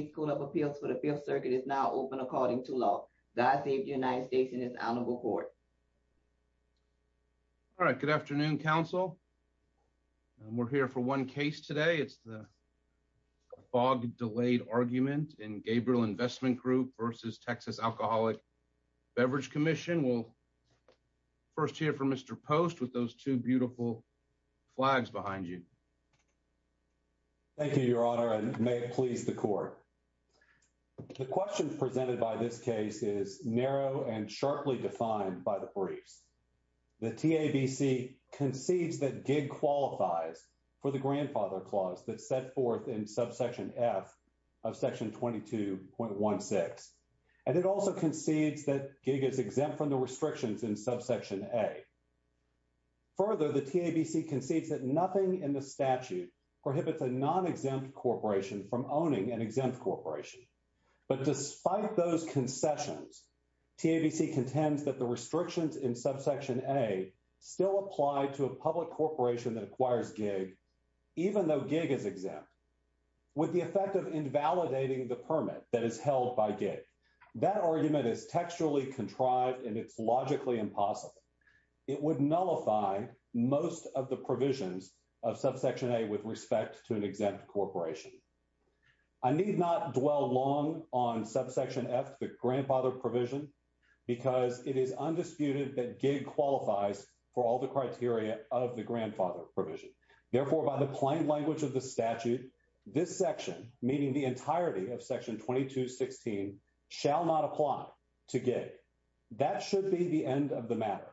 Beverage Commission. The first hearing of this case is scheduled for August 30th. Police school of appeals for the Fifth Circuit is now open according to law. God save the United States and his honorable court. All right. Good afternoon, counsel. We're here for one case today. It's the fog delayed argument in Gabriel Invst v. Texas Alcoholic Beverage Commission. We'll first hear from Mr. Post with those two beautiful flags behind you. Thank you, Your Honor, and may it please the court. The question presented by this case is narrow and sharply defined by the briefs. The TABC concedes that gig qualifies for the grandfather clause that's set forth in subsection F of section 22.16, and it also concedes that gig is exempt from the restrictions in subsection A. Further, the TABC concedes that nothing in the statute prohibits a non-exempt corporation from owning an exempt corporation. But despite those concessions, TABC contends that the restrictions in subsection A still apply to a public corporation that acquires gig, even though gig is exempt, with the effect of invalidating the permit that is held by gig. That argument is textually contrived, and it's logically impossible. It would nullify most of the provisions of subsection A with respect to an exempt corporation. I need not dwell long on subsection F, the grandfather provision, because it is undisputed that gig qualifies for all the criteria of the grandfather provision. Therefore, by the plain language of the statute, this section, meaning the entirety of section 2216, shall not apply to gig. That should be the end of the matter.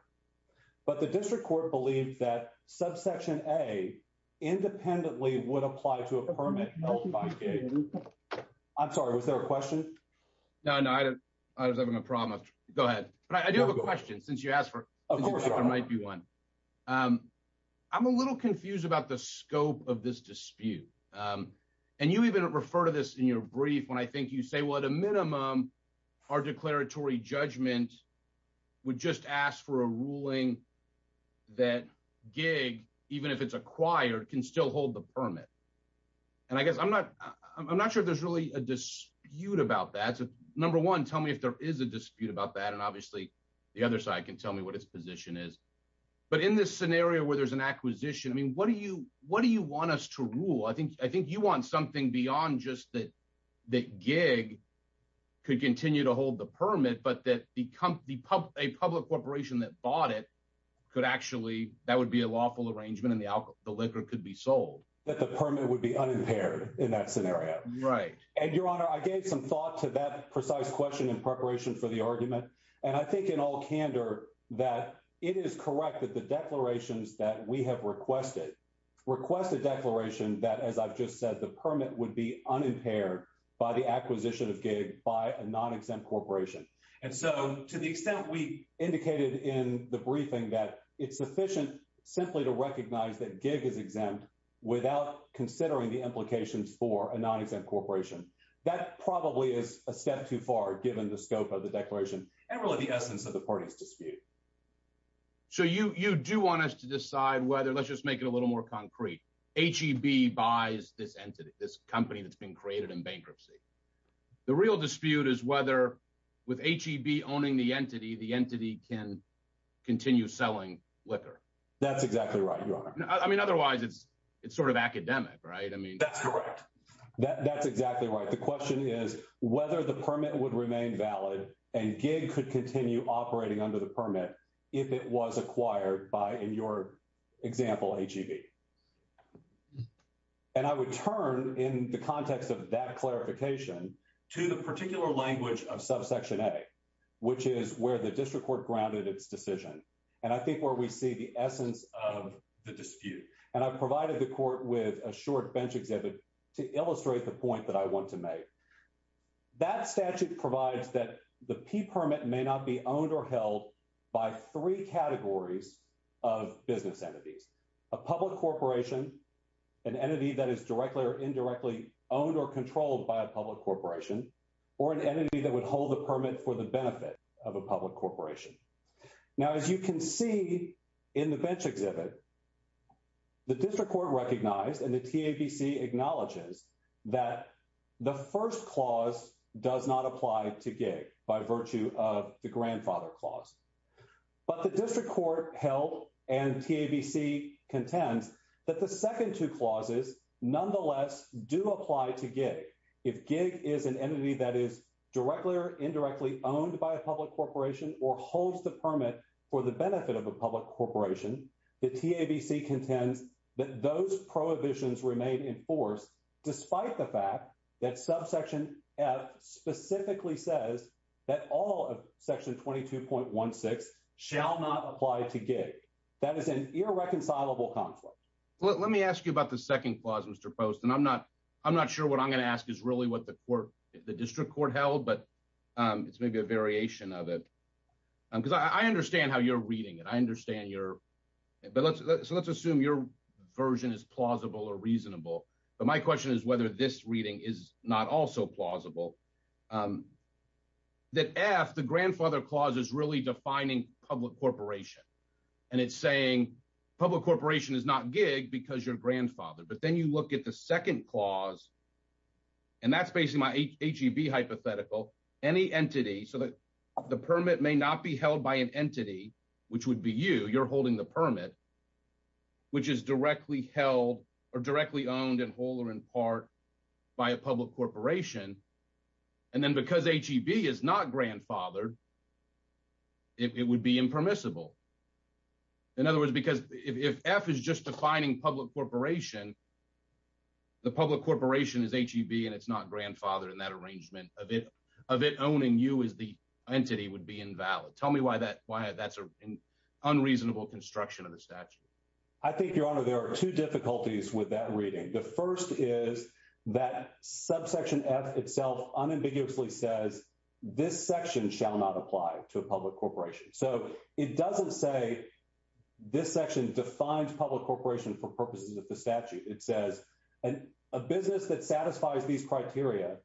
But the district court believed that subsection A independently would apply to a permit held by gig. I'm sorry, was there a question? No, no, I don't. I was having a problem. Go ahead. But I do have a question, since you asked for it. Of course. There might be one. I'm a little confused about the scope of this dispute. And you even refer to this in your brief when I think you say, well, at a minimum, our declaratory judgment would just ask for a ruling that gig, even if it's acquired, can still hold the permit. And I guess I'm not sure if there's really a dispute about that. Number one, tell me if there is a dispute about that, and obviously the other side can tell me what its position is. But in this scenario where there's an acquisition, I mean, what do you want us to rule? I think you want something beyond just that gig could continue to hold the permit, but that a public corporation that bought it could actually, that would be a lawful arrangement and the liquor could be sold. That the permit would be unimpaired in that scenario. Right. And Your Honor, I gave some thought to that precise question in preparation for the argument. And I think in all candor that it is correct that the declarations that we have requested request a declaration that, as I've just said, the permit would be unimpaired by the acquisition of gig by a non-exempt corporation. And so to the extent we indicated in the briefing that it's sufficient simply to recognize that gig is exempt without considering the implications for a non-exempt corporation, that probably is a step too far given the scope of the declaration and really the essence of the party's dispute. So you do want us to decide whether, let's just make it a little more concrete, H-E-B buys this entity, this company that's been created in bankruptcy. The real dispute is whether with H-E-B owning the entity, the entity can continue selling liquor. That's exactly right, Your Honor. I mean, otherwise it's sort of academic, right? I mean... That's correct. That's exactly right. The question is whether the permit would remain valid and gig could continue operating under the permit if it was acquired by, in your example, H-E-B. And I would turn in the context of that clarification to the particular language of subsection A, which is where the district court grounded its decision. And I think where we see the essence of the dispute. And I provided the court with a short bench exhibit to illustrate the point that I want to make. That statute provides that the P permit may not be owned or held by three categories of business entities, a public corporation, an entity that is directly or indirectly owned or controlled by a public corporation, or an entity that would hold a permit for the benefit of a public corporation. Now as you can see in the bench exhibit, the district court recognized and the TABC acknowledges that the first clause does not apply to gig by virtue of the grandfather clause. But the district court held and TABC contends that the second two clauses nonetheless do apply to gig. If gig is an entity that is directly or indirectly owned by a public corporation or holds the permit for the benefit of a public corporation, the TABC contends that those prohibitions remain in force despite the fact that subsection F specifically says that all of section 22.16 shall not apply to gig. That is an irreconcilable conflict. Let me ask you about the second clause, Mr. Post, and I'm not sure what I'm going to ask is really what the court, the district court held, but it's maybe a variation of it. Because I understand how you're reading it. I understand your, so let's assume your version is plausible or reasonable. But my question is whether this reading is not also plausible. That F, the grandfather clause is really defining public corporation. And it's saying public corporation is not gig because you're a grandfather. But then you look at the second clause, and that's basically my HEB hypothetical. Any entity so that the permit may not be held by an entity, which would be you, you're holding the permit, which is directly held or directly owned in whole or in part by a public corporation. And then because HEB is not grandfathered, it would be impermissible. In other words, because if F is just defining public corporation, the public corporation is HEB and it's not grandfathered in that arrangement of it, of it owning you as the entity would be invalid. Tell me why that's an unreasonable construction of the statute. I think, Your Honor, there are two difficulties with that reading. The first is that subsection F itself unambiguously says this section shall not apply to a public corporation. So it doesn't say this section defines public corporation for purposes of the statute. It says a business that satisfies these criteria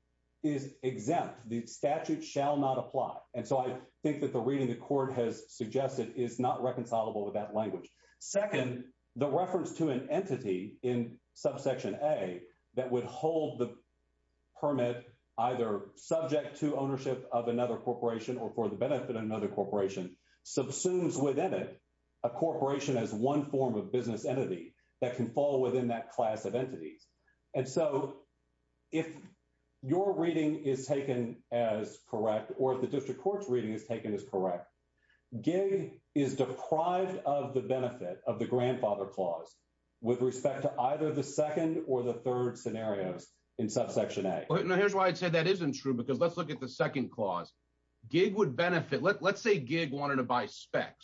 is exempt. The statute shall not apply. And so I think that the reading the court has suggested is not reconcilable with that language. Second, the reference to an entity in subsection A that would hold the permit either subject to ownership of another corporation or for the benefit of another corporation subsumes within it a corporation as one form of business entity that can fall within that class of entities. And so if your reading is taken as correct or if the district court's reading is taken as correct, GIG is deprived of the benefit of the grandfather clause with respect to either the second or the third scenarios in subsection A. Now, here's why I'd say that isn't true, because let's look at the second clause. GIG would benefit, let's say GIG wanted to buy SPEX,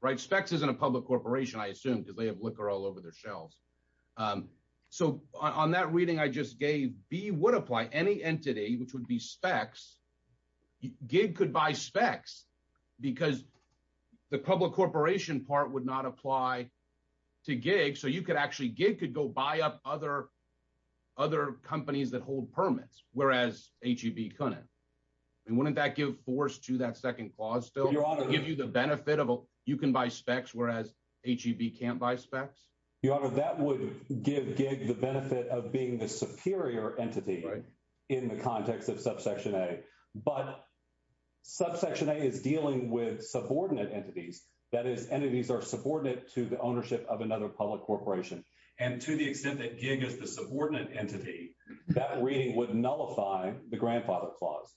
right? SPEX isn't a public corporation, I assume, because they have liquor all over their shelves. So on that reading I just gave, B would apply any entity, which would be SPEX, GIG could buy SPEX because the public corporation part would not apply to GIG. So you could actually, GIG could go buy up other companies that hold permits, whereas HEB couldn't. I mean, wouldn't that give force to that second clause still, give you the benefit of you can buy SPEX, whereas HEB can't buy SPEX? Your Honor, that would give GIG the benefit of being the superior entity in the context of subsection A, but subsection A is dealing with subordinate entities. That is, entities are subordinate to the ownership of another public corporation. And to the extent that GIG is the subordinate entity, that reading would nullify the grandfather clause.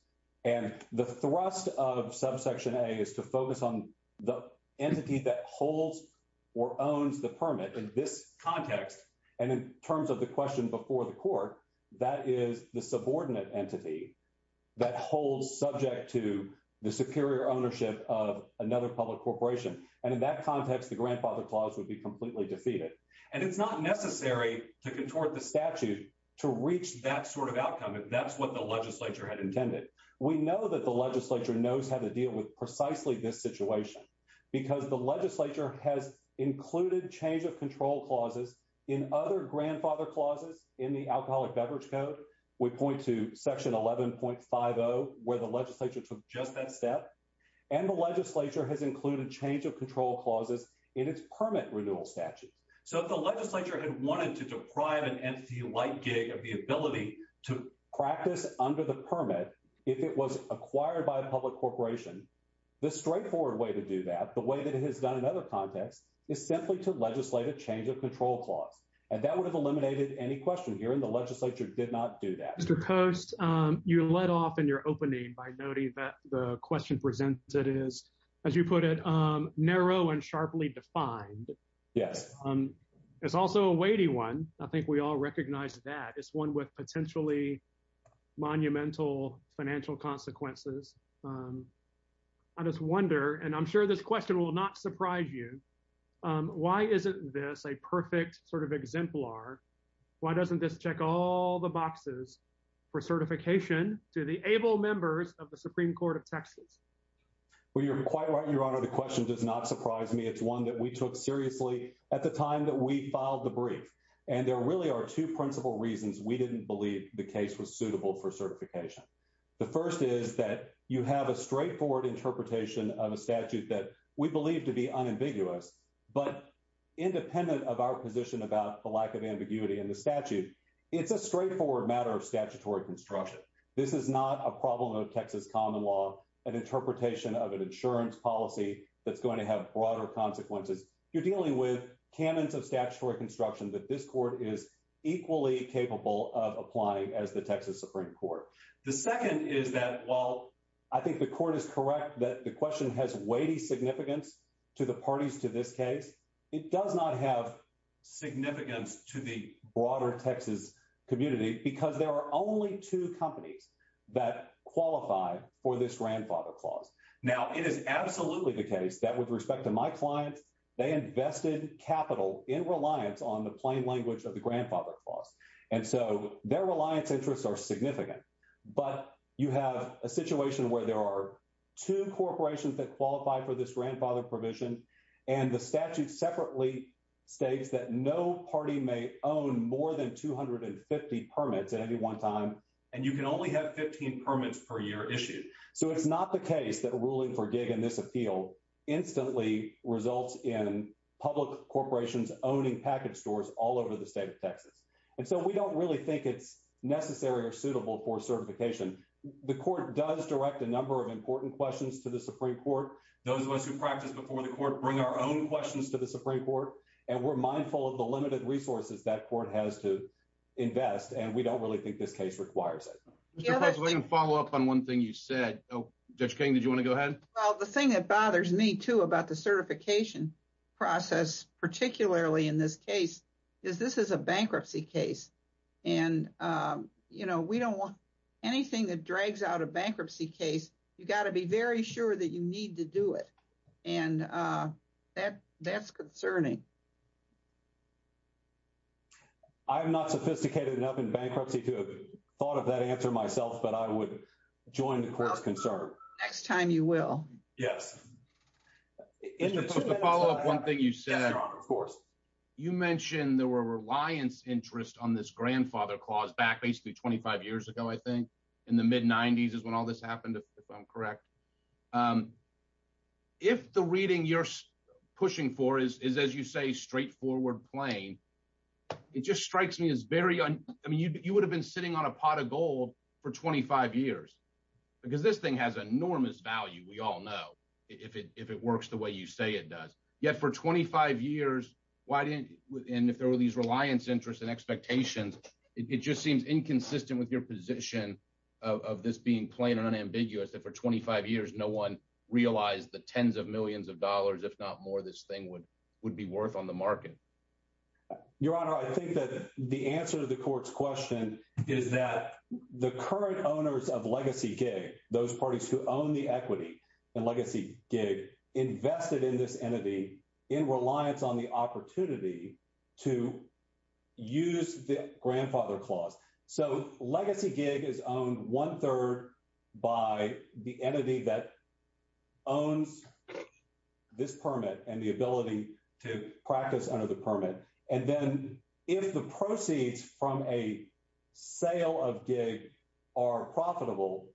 And the thrust of subsection A is to focus on the entity that holds or owns the permit in this context, and in terms of the question before the court, that is the subordinate entity that holds subject to the superior ownership of another public corporation. And in that context, the grandfather clause would be completely defeated. And it's not necessary to contort the statute to reach that sort of outcome, if that's what the legislature had intended. We know that the legislature knows how to deal with precisely this situation, because the legislature has included change of control clauses in other grandfather clauses in the Alcoholic Beverage Code. We point to section 11.50, where the legislature took just that step. And the legislature has included change of control clauses in its permit renewal statute. So if the legislature had wanted to deprive an entity like GIG of the ability to practice under the permit, if it was acquired by a public corporation, the straightforward way to do that, the way that it has done in other contexts, is simply to legislate a change of control clause. And that would have eliminated any question here, and the legislature did not do that. Mr. Coast, you led off in your opening by noting that the question presented is, as you put it, narrow and sharply defined. Yes. It's also a weighty one. I think we all recognize that. It's one with potentially monumental financial consequences. I just wonder, and I'm sure this question will not surprise you, why isn't this a perfect sort of exemplar? Why doesn't this check all the boxes for certification to the able members of the Supreme Court of Texas? Well, you're quite right, Your Honor. The question does not surprise me. It's one that we took seriously at the time that we filed the brief, and there really are two principal reasons we didn't believe the case was suitable for certification. The first is that you have a straightforward interpretation of a statute that we believe to be unambiguous, but independent of our position about the lack of ambiguity in the statute, it's a straightforward matter of statutory construction. This is not a problem of Texas common law, an interpretation of an insurance policy that's going to have broader consequences. You're dealing with canons of statutory construction that this court is equally capable of applying as the Texas Supreme Court. The second is that while I think the court is correct that the question has weighty significance to the parties to this case, it does not have significance to the broader Texas community because there are only two companies that qualify for this grandfather clause. Now, it is absolutely the case that with respect to my client, they invested capital in reliance on the plain language of the grandfather clause, and so their reliance interests are significant. But you have a situation where there are two corporations that qualify for this grandfather provision, and the statute separately states that no party may own more than 250 permits at any one time, and you can only have 15 permits per year issued. So it's not the case that ruling for gig in this appeal instantly results in public corporations owning package stores all over the state of Texas. And so we don't really think it's necessary or suitable for certification. The court does direct a number of important questions to the Supreme Court. Those of us who practice before the court bring our own questions to the Supreme Court, and we're mindful of the limited resources that court has to invest, and we don't really think this case requires it. Mr. President, let me follow up on one thing you said. Oh, Judge King, did you want to go ahead? Well, the thing that bothers me, too, about the certification process, particularly in this case, is this is a bankruptcy case, and, you know, we don't want anything that drags out a bankruptcy case. You got to be very sure that you need to do it, and that's concerning. I'm not sophisticated enough in bankruptcy to have thought of that answer myself, but I would join the court's concern. Next time you will. Yes. Mr. President, to follow up on one thing you said, you mentioned there were reliance interests on this grandfather clause back basically 25 years ago, I think, in the mid-'90s is when all this happened, if I'm correct. If the reading you're pushing for is, as you say, straightforward, plain, it just strikes me as very – I mean, you would have been sitting on a pot of gold for 25 years, because this thing has enormous value, we all know, if it works the way you say it does. Yet for 25 years, why didn't – and if there were these reliance interests and expectations, it just seems inconsistent with your position of this being plain and unambiguous, that for 25 years, no one realized the tens of millions of dollars, if not more, this thing would be worth on the market. Your Honor, I think that the answer to the court's question is that the current owners of Legacy Gig, those parties who own the equity in Legacy Gig, invested in this entity in reliance on the opportunity to use the grandfather clause. So Legacy Gig is owned one-third by the entity that owns this permit and the ability to practice under the permit. And then if the proceeds from a sale of Gig are profitable,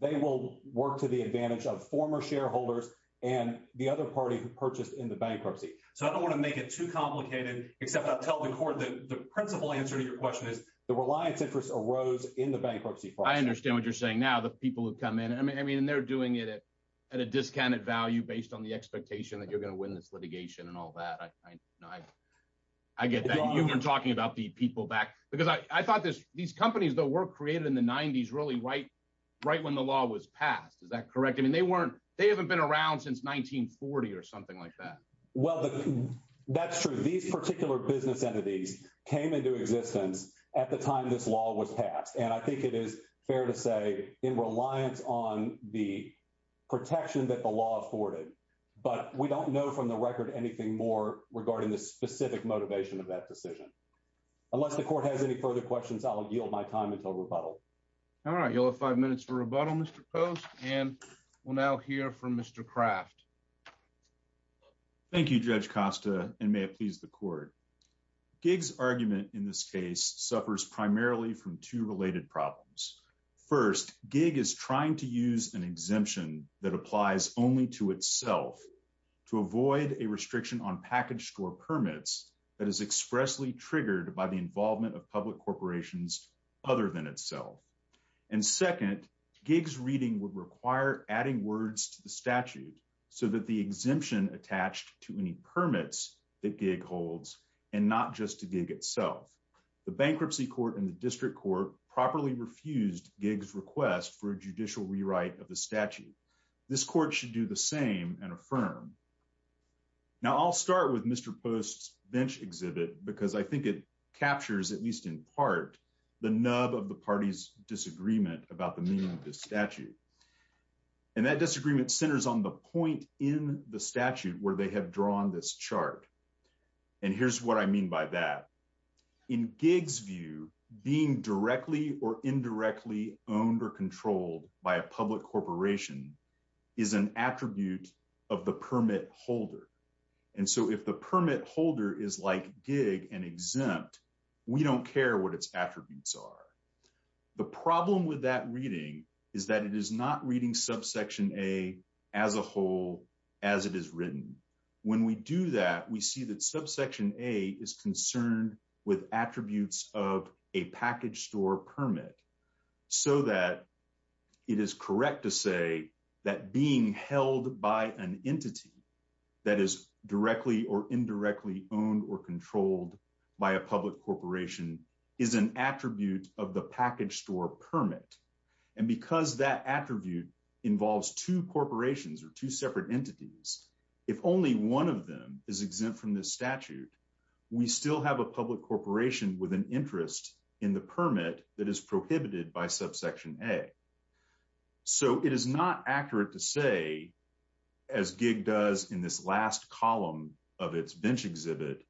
they will work to the advantage of former shareholders and the other party who purchased in the bankruptcy. So I don't want to make it too complicated, except I'll tell the court that the principal answer to your question is the reliance interest arose in the bankruptcy clause. I understand what you're saying now. The people who come in – I mean, and they're doing it at a discounted value based on the expectation that you're going to win this litigation and all that. I get that. You were talking about the people back – because I thought these companies that were created in the 90s really right when the law was passed. Is that correct? I mean, they weren't – they haven't been around since 1940 or something like that. Well, that's true. These particular business entities came into existence at the time this law was passed. And I think it is fair to say in reliance on the protection that the law afforded. But we don't know from the record anything more regarding the specific motivation of that decision. Unless the court has any further questions, I'll yield my time until rebuttal. All right. You'll have five minutes for rebuttal, Mr. Post. And we'll now hear from Mr. Kraft. Thank you, Judge Costa, and may it please the court. Gig's argument in this case suffers primarily from two related problems. First, Gig is trying to use an exemption that applies only to itself to avoid a restriction on package store permits that is expressly triggered by the involvement of public corporations other than itself. And second, Gig's reading would require adding words to the statute so that the exemption attached to any permits that Gig holds and not just to Gig itself. The bankruptcy court and the district court properly refused Gig's request for a judicial rewrite of the statute. This court should do the same and affirm. Now I'll start with Mr. Post's bench exhibit because I think it captures, at least in part, the nub of the party's disagreement about the meaning of this statute. And that disagreement centers on the point in the statute where they have drawn this chart. And here's what I mean by that. In Gig's view, being directly or indirectly owned or controlled by a public corporation is an attribute of the permit holder. And so if the permit holder is like Gig and exempt, we don't care what its attributes are. The problem with that reading is that it is not reading subsection A as a whole as it is written. When we do that, we see that subsection A is concerned with attributes of a package store permit so that it is correct to say that being held by an entity that is directly or indirectly owned or controlled by a public corporation is an attribute of the package store permit. And because that attribute involves two corporations or two separate entities, if only one of them is exempt from this statute, we still have a public corporation with an interest in the permit that is prohibited by subsection A. So it is not accurate to say, as Gig does in this last column of its bench exhibit,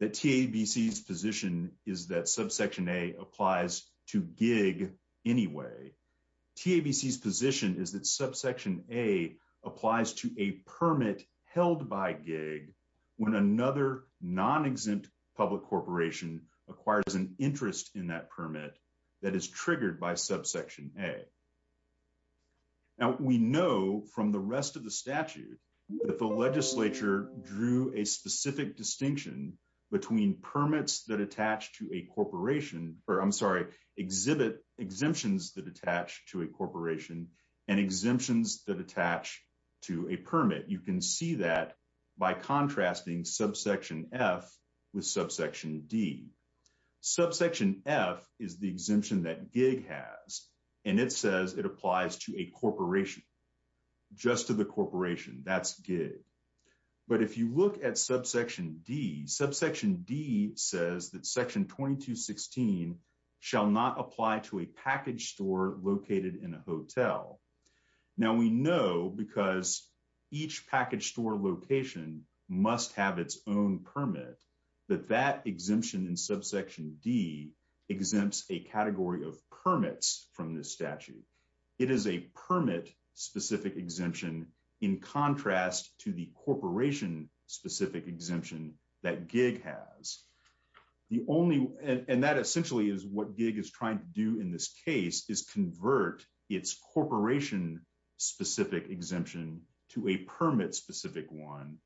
that TABC's position is that subsection A applies to Gig anyway. TABC's position is that subsection A applies to a permit held by Gig when another non-exempt public corporation acquires an interest in that permit that is triggered by subsection A. We know from the rest of the statute that the legislature drew a specific distinction between permits that attach to a corporation, or I'm sorry, exhibit exemptions that attach to a corporation and exemptions that attach to a permit. You can see that by contrasting subsection F with subsection D. Subsection F is the exemption that Gig has, and it says it applies to a corporation. Just to the corporation, that's Gig. But if you look at subsection D, subsection D says that section 2216 shall not apply to a package store located in a hotel. Now, we know because each package store location must have its own permit, that that exemption in subsection D exempts a category of permits from this statute. It is a permit-specific exemption in contrast to the corporation-specific exemption that Gig has. The only, and that essentially is what Gig is trying to do in this case, is convert its corporation-specific exemption to a permit-specific one.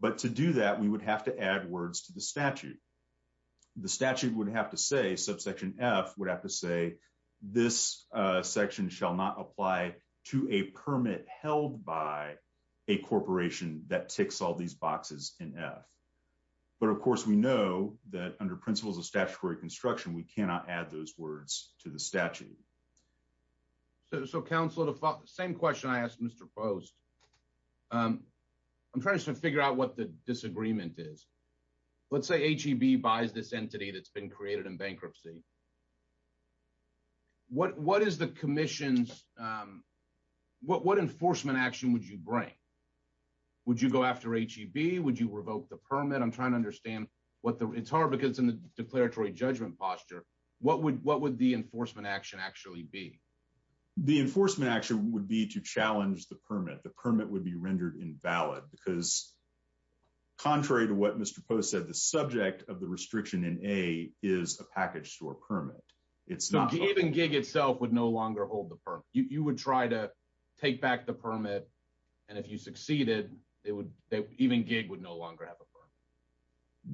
But to do that, we would have to add words to the statute. The statute would have to say, subsection F would have to say, this section shall not apply to a permit held by a corporation that ticks all these boxes in F. But of course, we know that under principles of statutory construction, we cannot add those words to the statute. So, Counselor, the same question I asked Mr. Post. I'm trying to figure out what the disagreement is. Let's say H-E-B buys this entity that's been created in bankruptcy. What is the commission's, what enforcement action would you bring? Would you go after H-E-B? Would you revoke the permit? I'm trying to understand what the, it's hard because in the declaratory judgment posture, what would the enforcement action actually be? The enforcement action would be to challenge the permit. The permit would be rendered invalid because, contrary to what Mr. Post said, the subject of the restriction in A is a package store permit. It's not- Even Gig itself would no longer hold the permit. You would try to take back the permit, and if you succeeded, it would, even Gig would no longer have a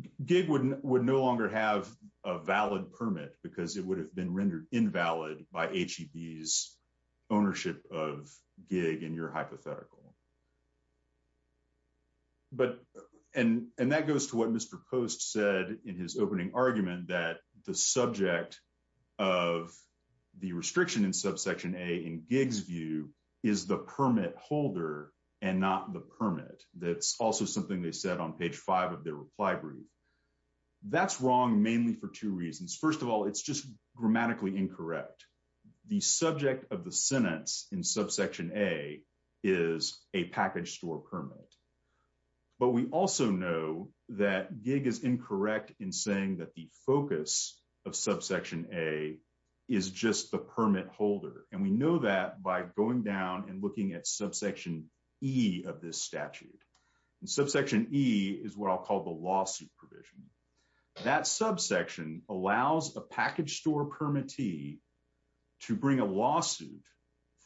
permit. Gig would no longer have a valid permit because it would have been rendered invalid by H-E-B's ownership of Gig in your hypothetical. But, and that goes to what Mr. Post said in his opening argument that the subject of the restriction in subsection A, in Gig's view, is the permit holder and not the permit. That's also something they said on page five of their reply brief. That's wrong mainly for two reasons. First of all, it's just grammatically incorrect. The subject of the sentence in subsection A is a package store permit. But we also know that Gig is incorrect in saying that the focus of subsection A is just the permit holder. And we know that by going down and looking at subsection E of this statute. Subsection E is what I'll call the lawsuit provision. That subsection allows a package store permittee to bring a lawsuit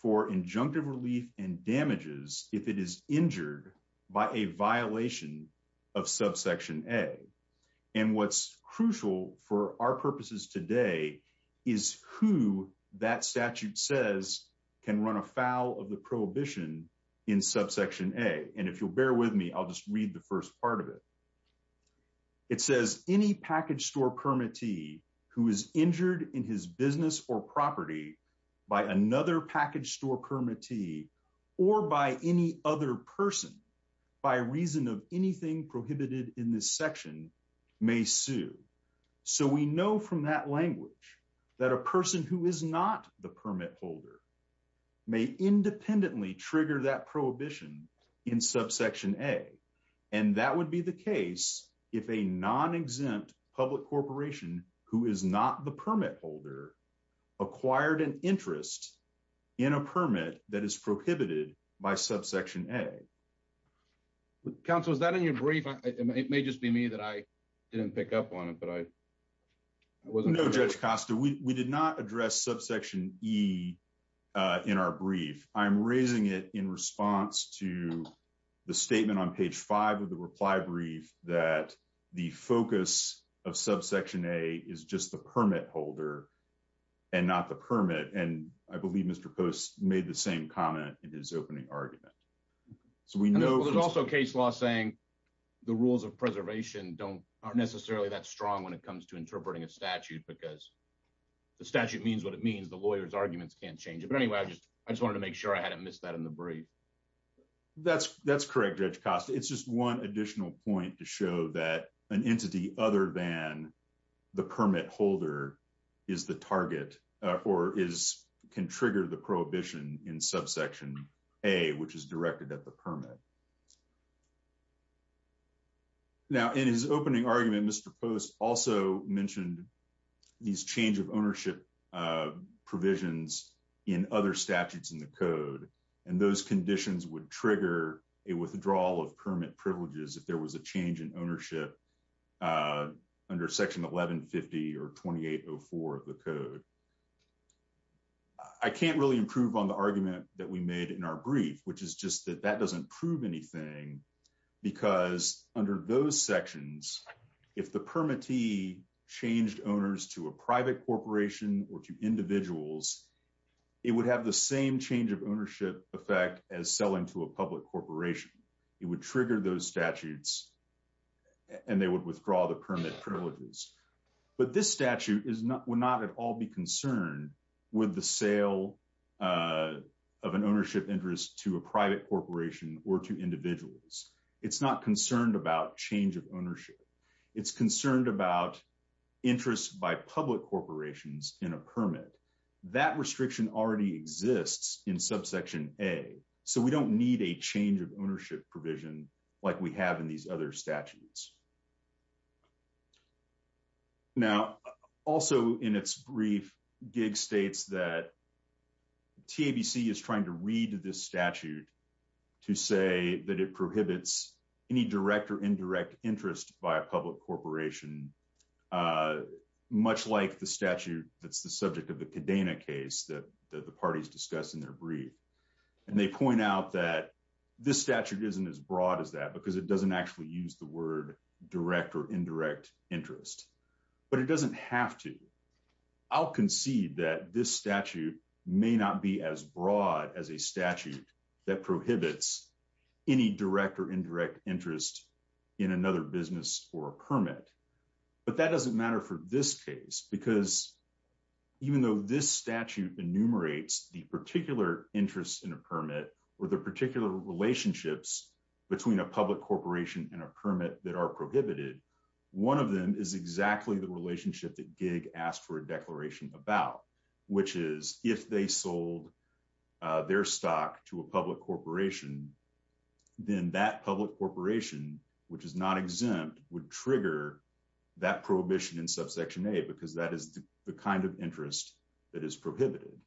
for injunctive relief and by a violation of subsection A. And what's crucial for our purposes today is who that statute says can run afoul of the prohibition in subsection A. And if you'll bear with me, I'll just read the first part of it. It says any package store permittee who is injured in his business or property by another package store permittee or by any other person by reason of anything prohibited in this section may sue. So we know from that language that a person who is not the permit holder may independently trigger that prohibition in subsection A. And that would be the case if a non-exempt public corporation who is not the permit holder acquired an interest in a permit that is prohibited by subsection A. Counselor, is that in your brief? It may just be me that I didn't pick up on it, but I wasn't. No, Judge Costa, we did not address subsection E in our brief. I'm raising it in response to the statement on page five of the reply brief that the focus of subsection A is just the permit holder and not the permit. And I believe Mr. Post made the same comment in his opening argument. So we know there's also case law saying the rules of preservation aren't necessarily that strong when it comes to interpreting a statute because the statute means what it means. The lawyer's arguments can't change it. But anyway, I just wanted to make sure I hadn't missed that in the brief. That's correct, Judge Costa. It's just one additional point to show that an entity other than the permit holder is the target or can trigger the prohibition in subsection A, which is directed at the permit. Now, in his opening argument, Mr. Post also mentioned these change of ownership provisions in other statutes in the code. And those conditions would trigger a withdrawal of permit privileges if there was a change in ownership under section 1150 or 2804 of the code. I can't really improve on the argument that we made in our brief, which is just that that doesn't prove anything because under those sections, if the permittee changed owners to a private corporation or to individuals, it would have the same change of ownership effect as selling to a public corporation. It would trigger those statutes and they would withdraw the permit privileges. But this statute would not at all be concerned with the sale of an ownership interest to a private corporation or to individuals. It's not concerned about change of ownership. It's concerned about interest by public corporations in a permit. That restriction already exists in subsection A, so we don't need a change of ownership provision like we have in these other statutes. Now, also in its brief, Giggs states that TABC is trying to read this statute to say that it prohibits any direct or indirect interest by a public corporation, much like the statute that's the subject of the Kadena case that the parties discussed in their brief. And they point out that this statute isn't as broad as that because it doesn't actually use the word direct or indirect interest. But it doesn't have to. I'll concede that this statute may not be as broad as a statute that prohibits any direct or indirect interest in another business or a permit. But that doesn't matter for this case because even though this statute enumerates the particular interest in a permit or the particular relationships between a public corporation and a permit that are prohibited, one of them is exactly the relationship that Giggs asked for a declaration about, which is, if they sold their stock to a public corporation, then that public corporation, which is not exempt, would trigger that prohibition in subsection A because that is the kind of interest that is prohibited.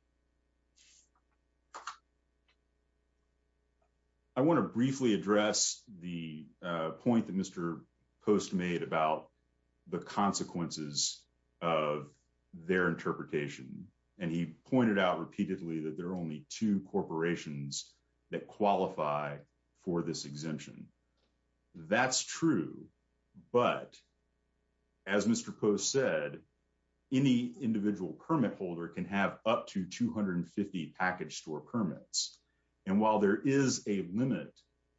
I want to briefly address the point that Mr. Post made about the consequences of their interpretation. And he pointed out repeatedly that there are only two corporations that qualify for this exemption. That's true. But as Mr. Post said, any individual permit holder can have up to two exemptions. That's up to 250 package store permits. And while there is a limit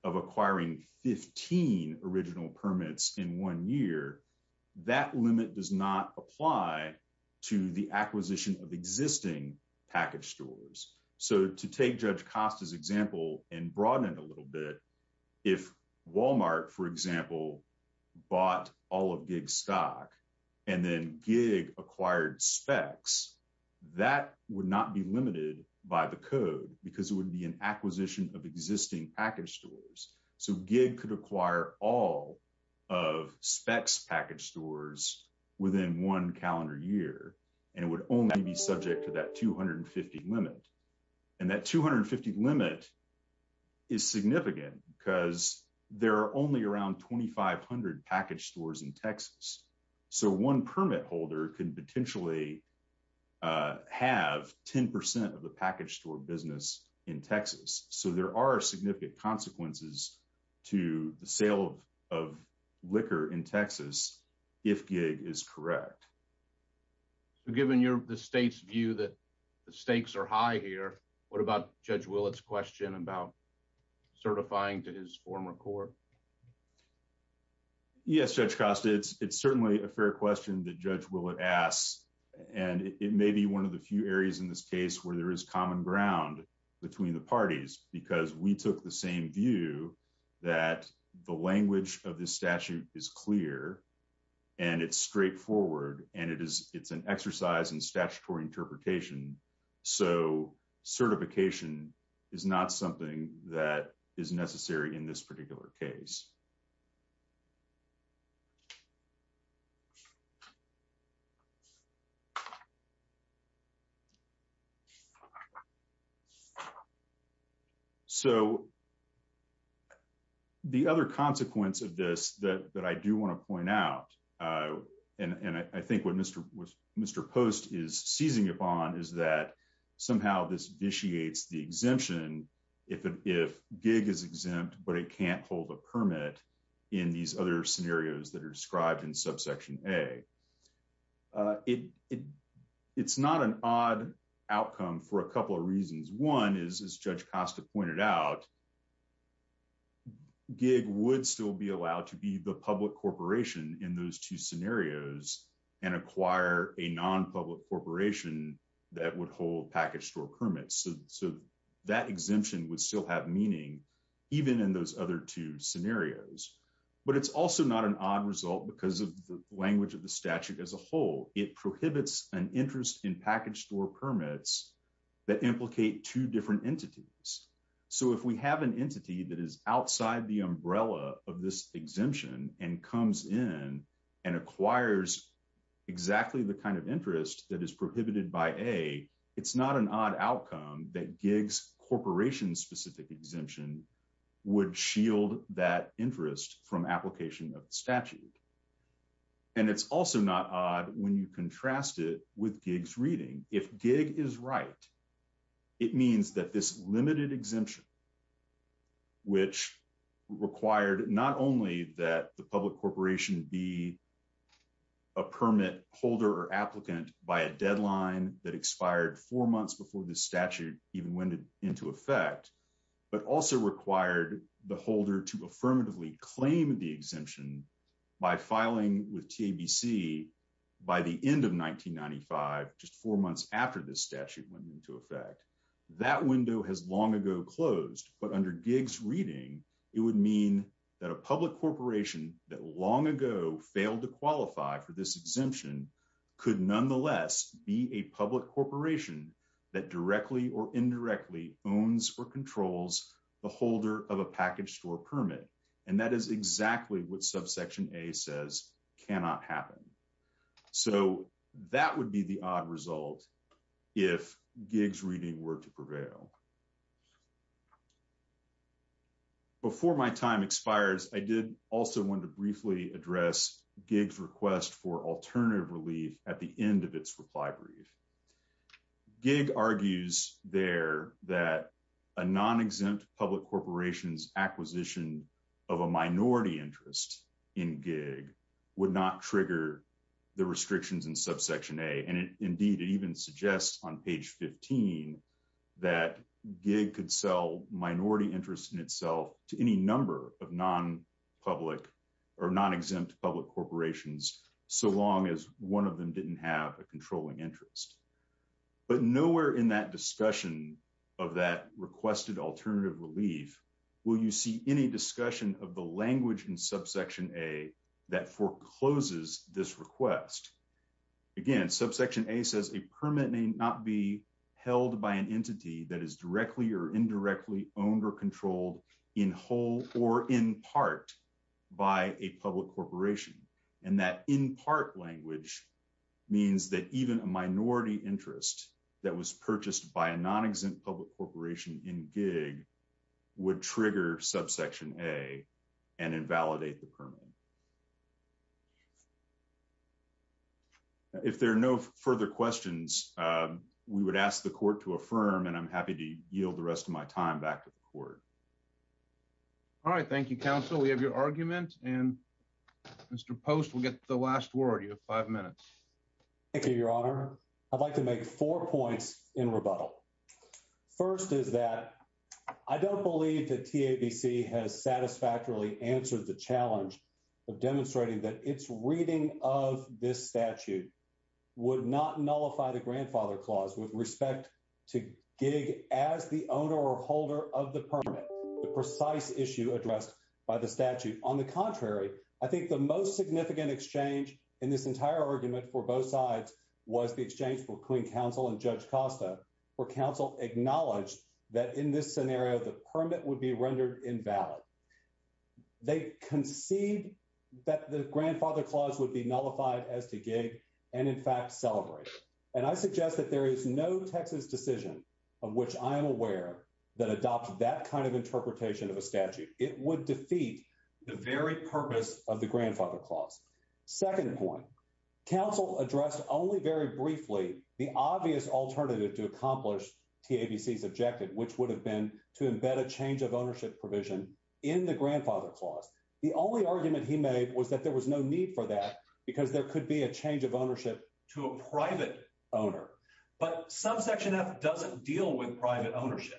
of acquiring 15 original permits in one year, that limit does not apply to the acquisition of existing package stores. So to take Judge Costa's example and broaden it a little bit, if Walmart, for example, bought all of Giggs' stock and then Giggs acquired specs, that would not be limited by the code because it would be an acquisition of existing package stores. So Giggs could acquire all of specs package stores within one calendar year, and it would only be subject to that 250 limit. And that 250 limit is significant because there are only around 2,500 package stores in Texas. So one permit holder can potentially have 10% of the package store business in Texas. So there are significant consequences to the sale of liquor in Texas if Giggs is correct. So given the state's view that the stakes are high here, what about Judge Willett's question about certifying to his former court? Yes, Judge Costa. It's certainly a fair question that Judge Willett asks, and it may be one of the few areas in this case where there is common ground between the parties because we took the same that the language of this statute is clear and it's straightforward and it's an exercise in statutory interpretation. So certification is not something that is necessary in this particular case. So the other consequence of this that I do want to point out, and I think what Mr. Post is seizing upon is that somehow this vitiates the exemption if Giggs is exempt but it can't hold a permit in these other scenarios that are described in subsection A. It's not an odd outcome for a couple of reasons. One is, as Judge Costa pointed out, Giggs would still be allowed to be the public corporation in those two scenarios and acquire a non-public corporation that would hold package store permits. So that exemption would still have meaning even in those other two scenarios. But it's also not an odd result because of the language of the statute as a whole. It prohibits an interest in package store permits that implicate two different entities. So if we have an entity that is outside the umbrella of this exemption and comes in and that Giggs corporation specific exemption would shield that interest from application of the statute. And it's also not odd when you contrast it with Giggs reading. If Giggs is right, it means that this limited exemption, which required not only that the public corporation be a permit holder or applicant by a deadline that expired four months before the statute even went into effect, but also required the holder to affirmatively claim the exemption by filing with TABC by the end of 1995, just four months after the statute went into effect. That window has long ago closed, but under Giggs reading, it would mean that a public corporation that long ago failed to qualify for this exemption could nonetheless be a public corporation that directly or indirectly owns or controls the holder of a package store permit. And that is exactly what subsection A says cannot happen. So that would be the odd result if Giggs reading were to prevail. Before my time expires, I did also want to briefly address Giggs request for alternative relief at the end of its reply brief. It argues there that a non-exempt public corporation's acquisition of a minority interest in Giggs would not trigger the restrictions in subsection A. And indeed, it even suggests on page 15 that Giggs could sell minority interest in itself to any number of non-public or non-exempt public corporations so long as one of them didn't have a controlling interest. But nowhere in that discussion of that requested alternative relief will you see any discussion of the language in subsection A that forecloses this request. Again, subsection A says a permit may not be held by an entity that is directly or indirectly owned or controlled in whole or in part by a public corporation. And that in part language means that even a minority interest that was purchased by a non-exempt public corporation in Giggs would trigger subsection A and invalidate the permit. If there are no further questions, we would ask the court to affirm and I'm happy to yield the rest of my time back to the court. All right. Thank you, counsel. We have your argument and Mr. Post will get the last word. You have five minutes. Thank you, Your Honor. I'd like to make four points in rebuttal. First is that I don't believe that TABC has satisfactorily answered the challenge of demonstrating that its reading of this statute would not nullify the grandfather clause with respect to Giggs as the owner or holder of the permit, the precise issue addressed by the statute. On the contrary, I think the most significant exchange in this entire argument for both sides was the exchange between counsel and Judge Costa, where counsel acknowledged that in this scenario, the permit would be rendered invalid. They conceived that the grandfather clause would be nullified as to Giggs and in fact celebrate. And I suggest that there is no Texas decision of which I am aware that adopts that kind of interpretation of a statute. It would defeat the very purpose of the grandfather clause. Second point, counsel addressed only very briefly the obvious alternative to accomplish TABC's objective, which would have been to embed a change of ownership provision in the grandfather clause. The only argument he made was that there was no need for that because there could be a private owner. But subsection F doesn't deal with private ownership.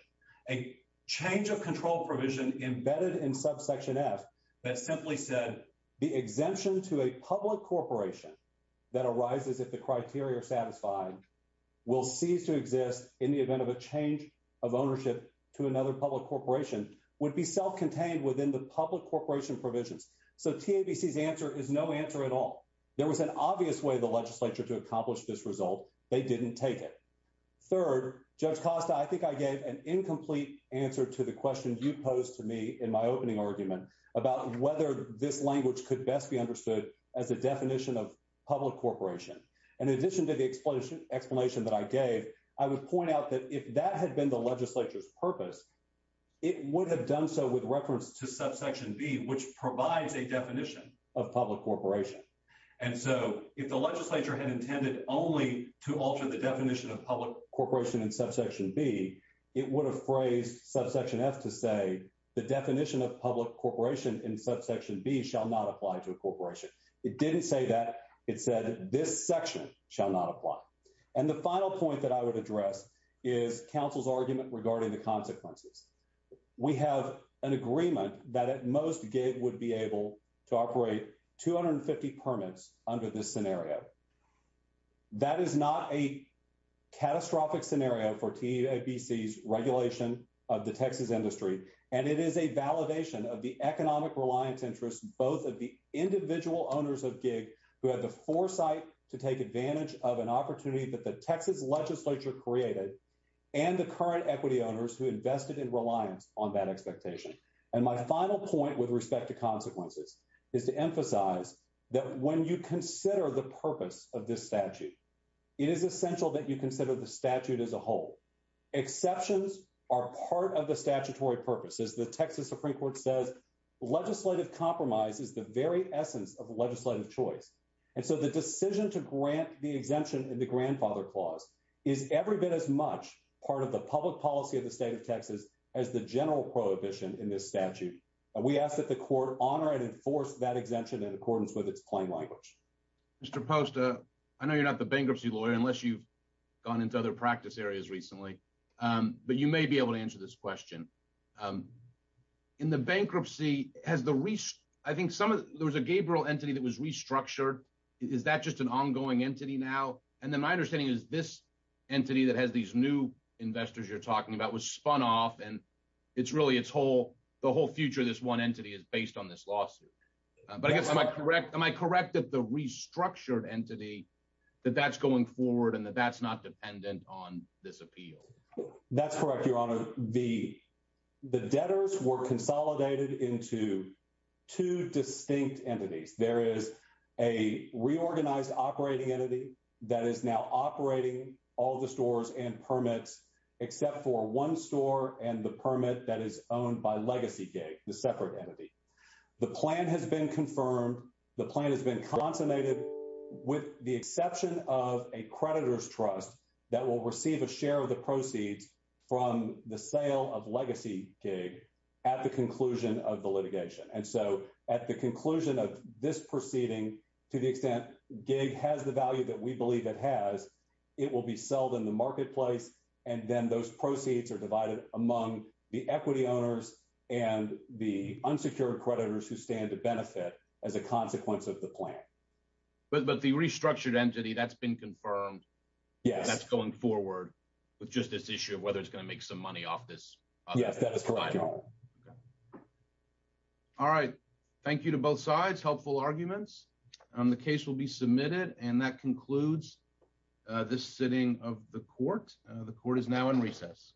A change of control provision embedded in subsection F that simply said the exemption to a public corporation that arises if the criteria are satisfied will cease to exist in the event of a change of ownership to another public corporation would be self-contained within the public corporation provisions. So TABC's answer is no answer at all. There was an obvious way the legislature to accomplish this result. They didn't take it. Third, Judge Costa, I think I gave an incomplete answer to the question you posed to me in my opening argument about whether this language could best be understood as a definition of public corporation. In addition to the explanation that I gave, I would point out that if that had been the legislature's purpose, it would have done so with reference to subsection B, which provides a definition of public corporation. And so if the legislature had intended only to alter the definition of public corporation in subsection B, it would have phrased subsection F to say the definition of public corporation in subsection B shall not apply to a corporation. It didn't say that. It said this section shall not apply. And the final point that I would address is counsel's argument regarding the consequences. We have an agreement that at most GIG would be able to operate 250 permits under this scenario. That is not a catastrophic scenario for TABC's regulation of the Texas industry. And it is a validation of the economic reliance interest both of the individual owners of GIG who had the foresight to take advantage of an opportunity that the Texas legislature created and the current equity owners who invested in reliance on that expectation. And my final point with respect to consequences is to emphasize that when you consider the purpose of this statute, it is essential that you consider the statute as a whole. Exceptions are part of the statutory purpose. As the Texas Supreme Court says, legislative compromise is the very essence of legislative choice. And so the decision to grant the exemption in the grandfather clause is every bit as much part of the public policy of the state of Texas as the general prohibition in this statute. We ask that the court honor and enforce that exemption in accordance with its plain language. Mr. Posta, I know you're not the bankruptcy lawyer unless you've gone into other practice areas recently, but you may be able to answer this question. Um, in the bankruptcy has the risk. I think some of there was a Gabriel entity that was restructured. Is that just an ongoing entity now? And then my understanding is this entity that has these new investors you're talking about was spun off and it's really its whole the whole future. This one entity is based on this lawsuit. But I guess am I correct? Am I correct that the restructured entity that that's going forward and that that's not dependent on this appeal? That's correct. The debtors were consolidated into two distinct entities. There is a reorganized operating entity that is now operating all the stores and permits, except for one store and the permit that is owned by Legacygate, the separate entity. The plan has been confirmed. The plan has been consummated with the exception of a creditor's trust that will receive a the sale of Legacygate at the conclusion of the litigation. And so at the conclusion of this proceeding, to the extent gig has the value that we believe it has, it will be sold in the marketplace. And then those proceeds are divided among the equity owners and the unsecured creditors who stand to benefit as a consequence of the plan. But the restructured entity that's been confirmed. That's going forward with just this issue of whether it's going to make some money off this. All right. Thank you to both sides. Helpful arguments on the case will be submitted. And that concludes this sitting of the court. The court is now in recess.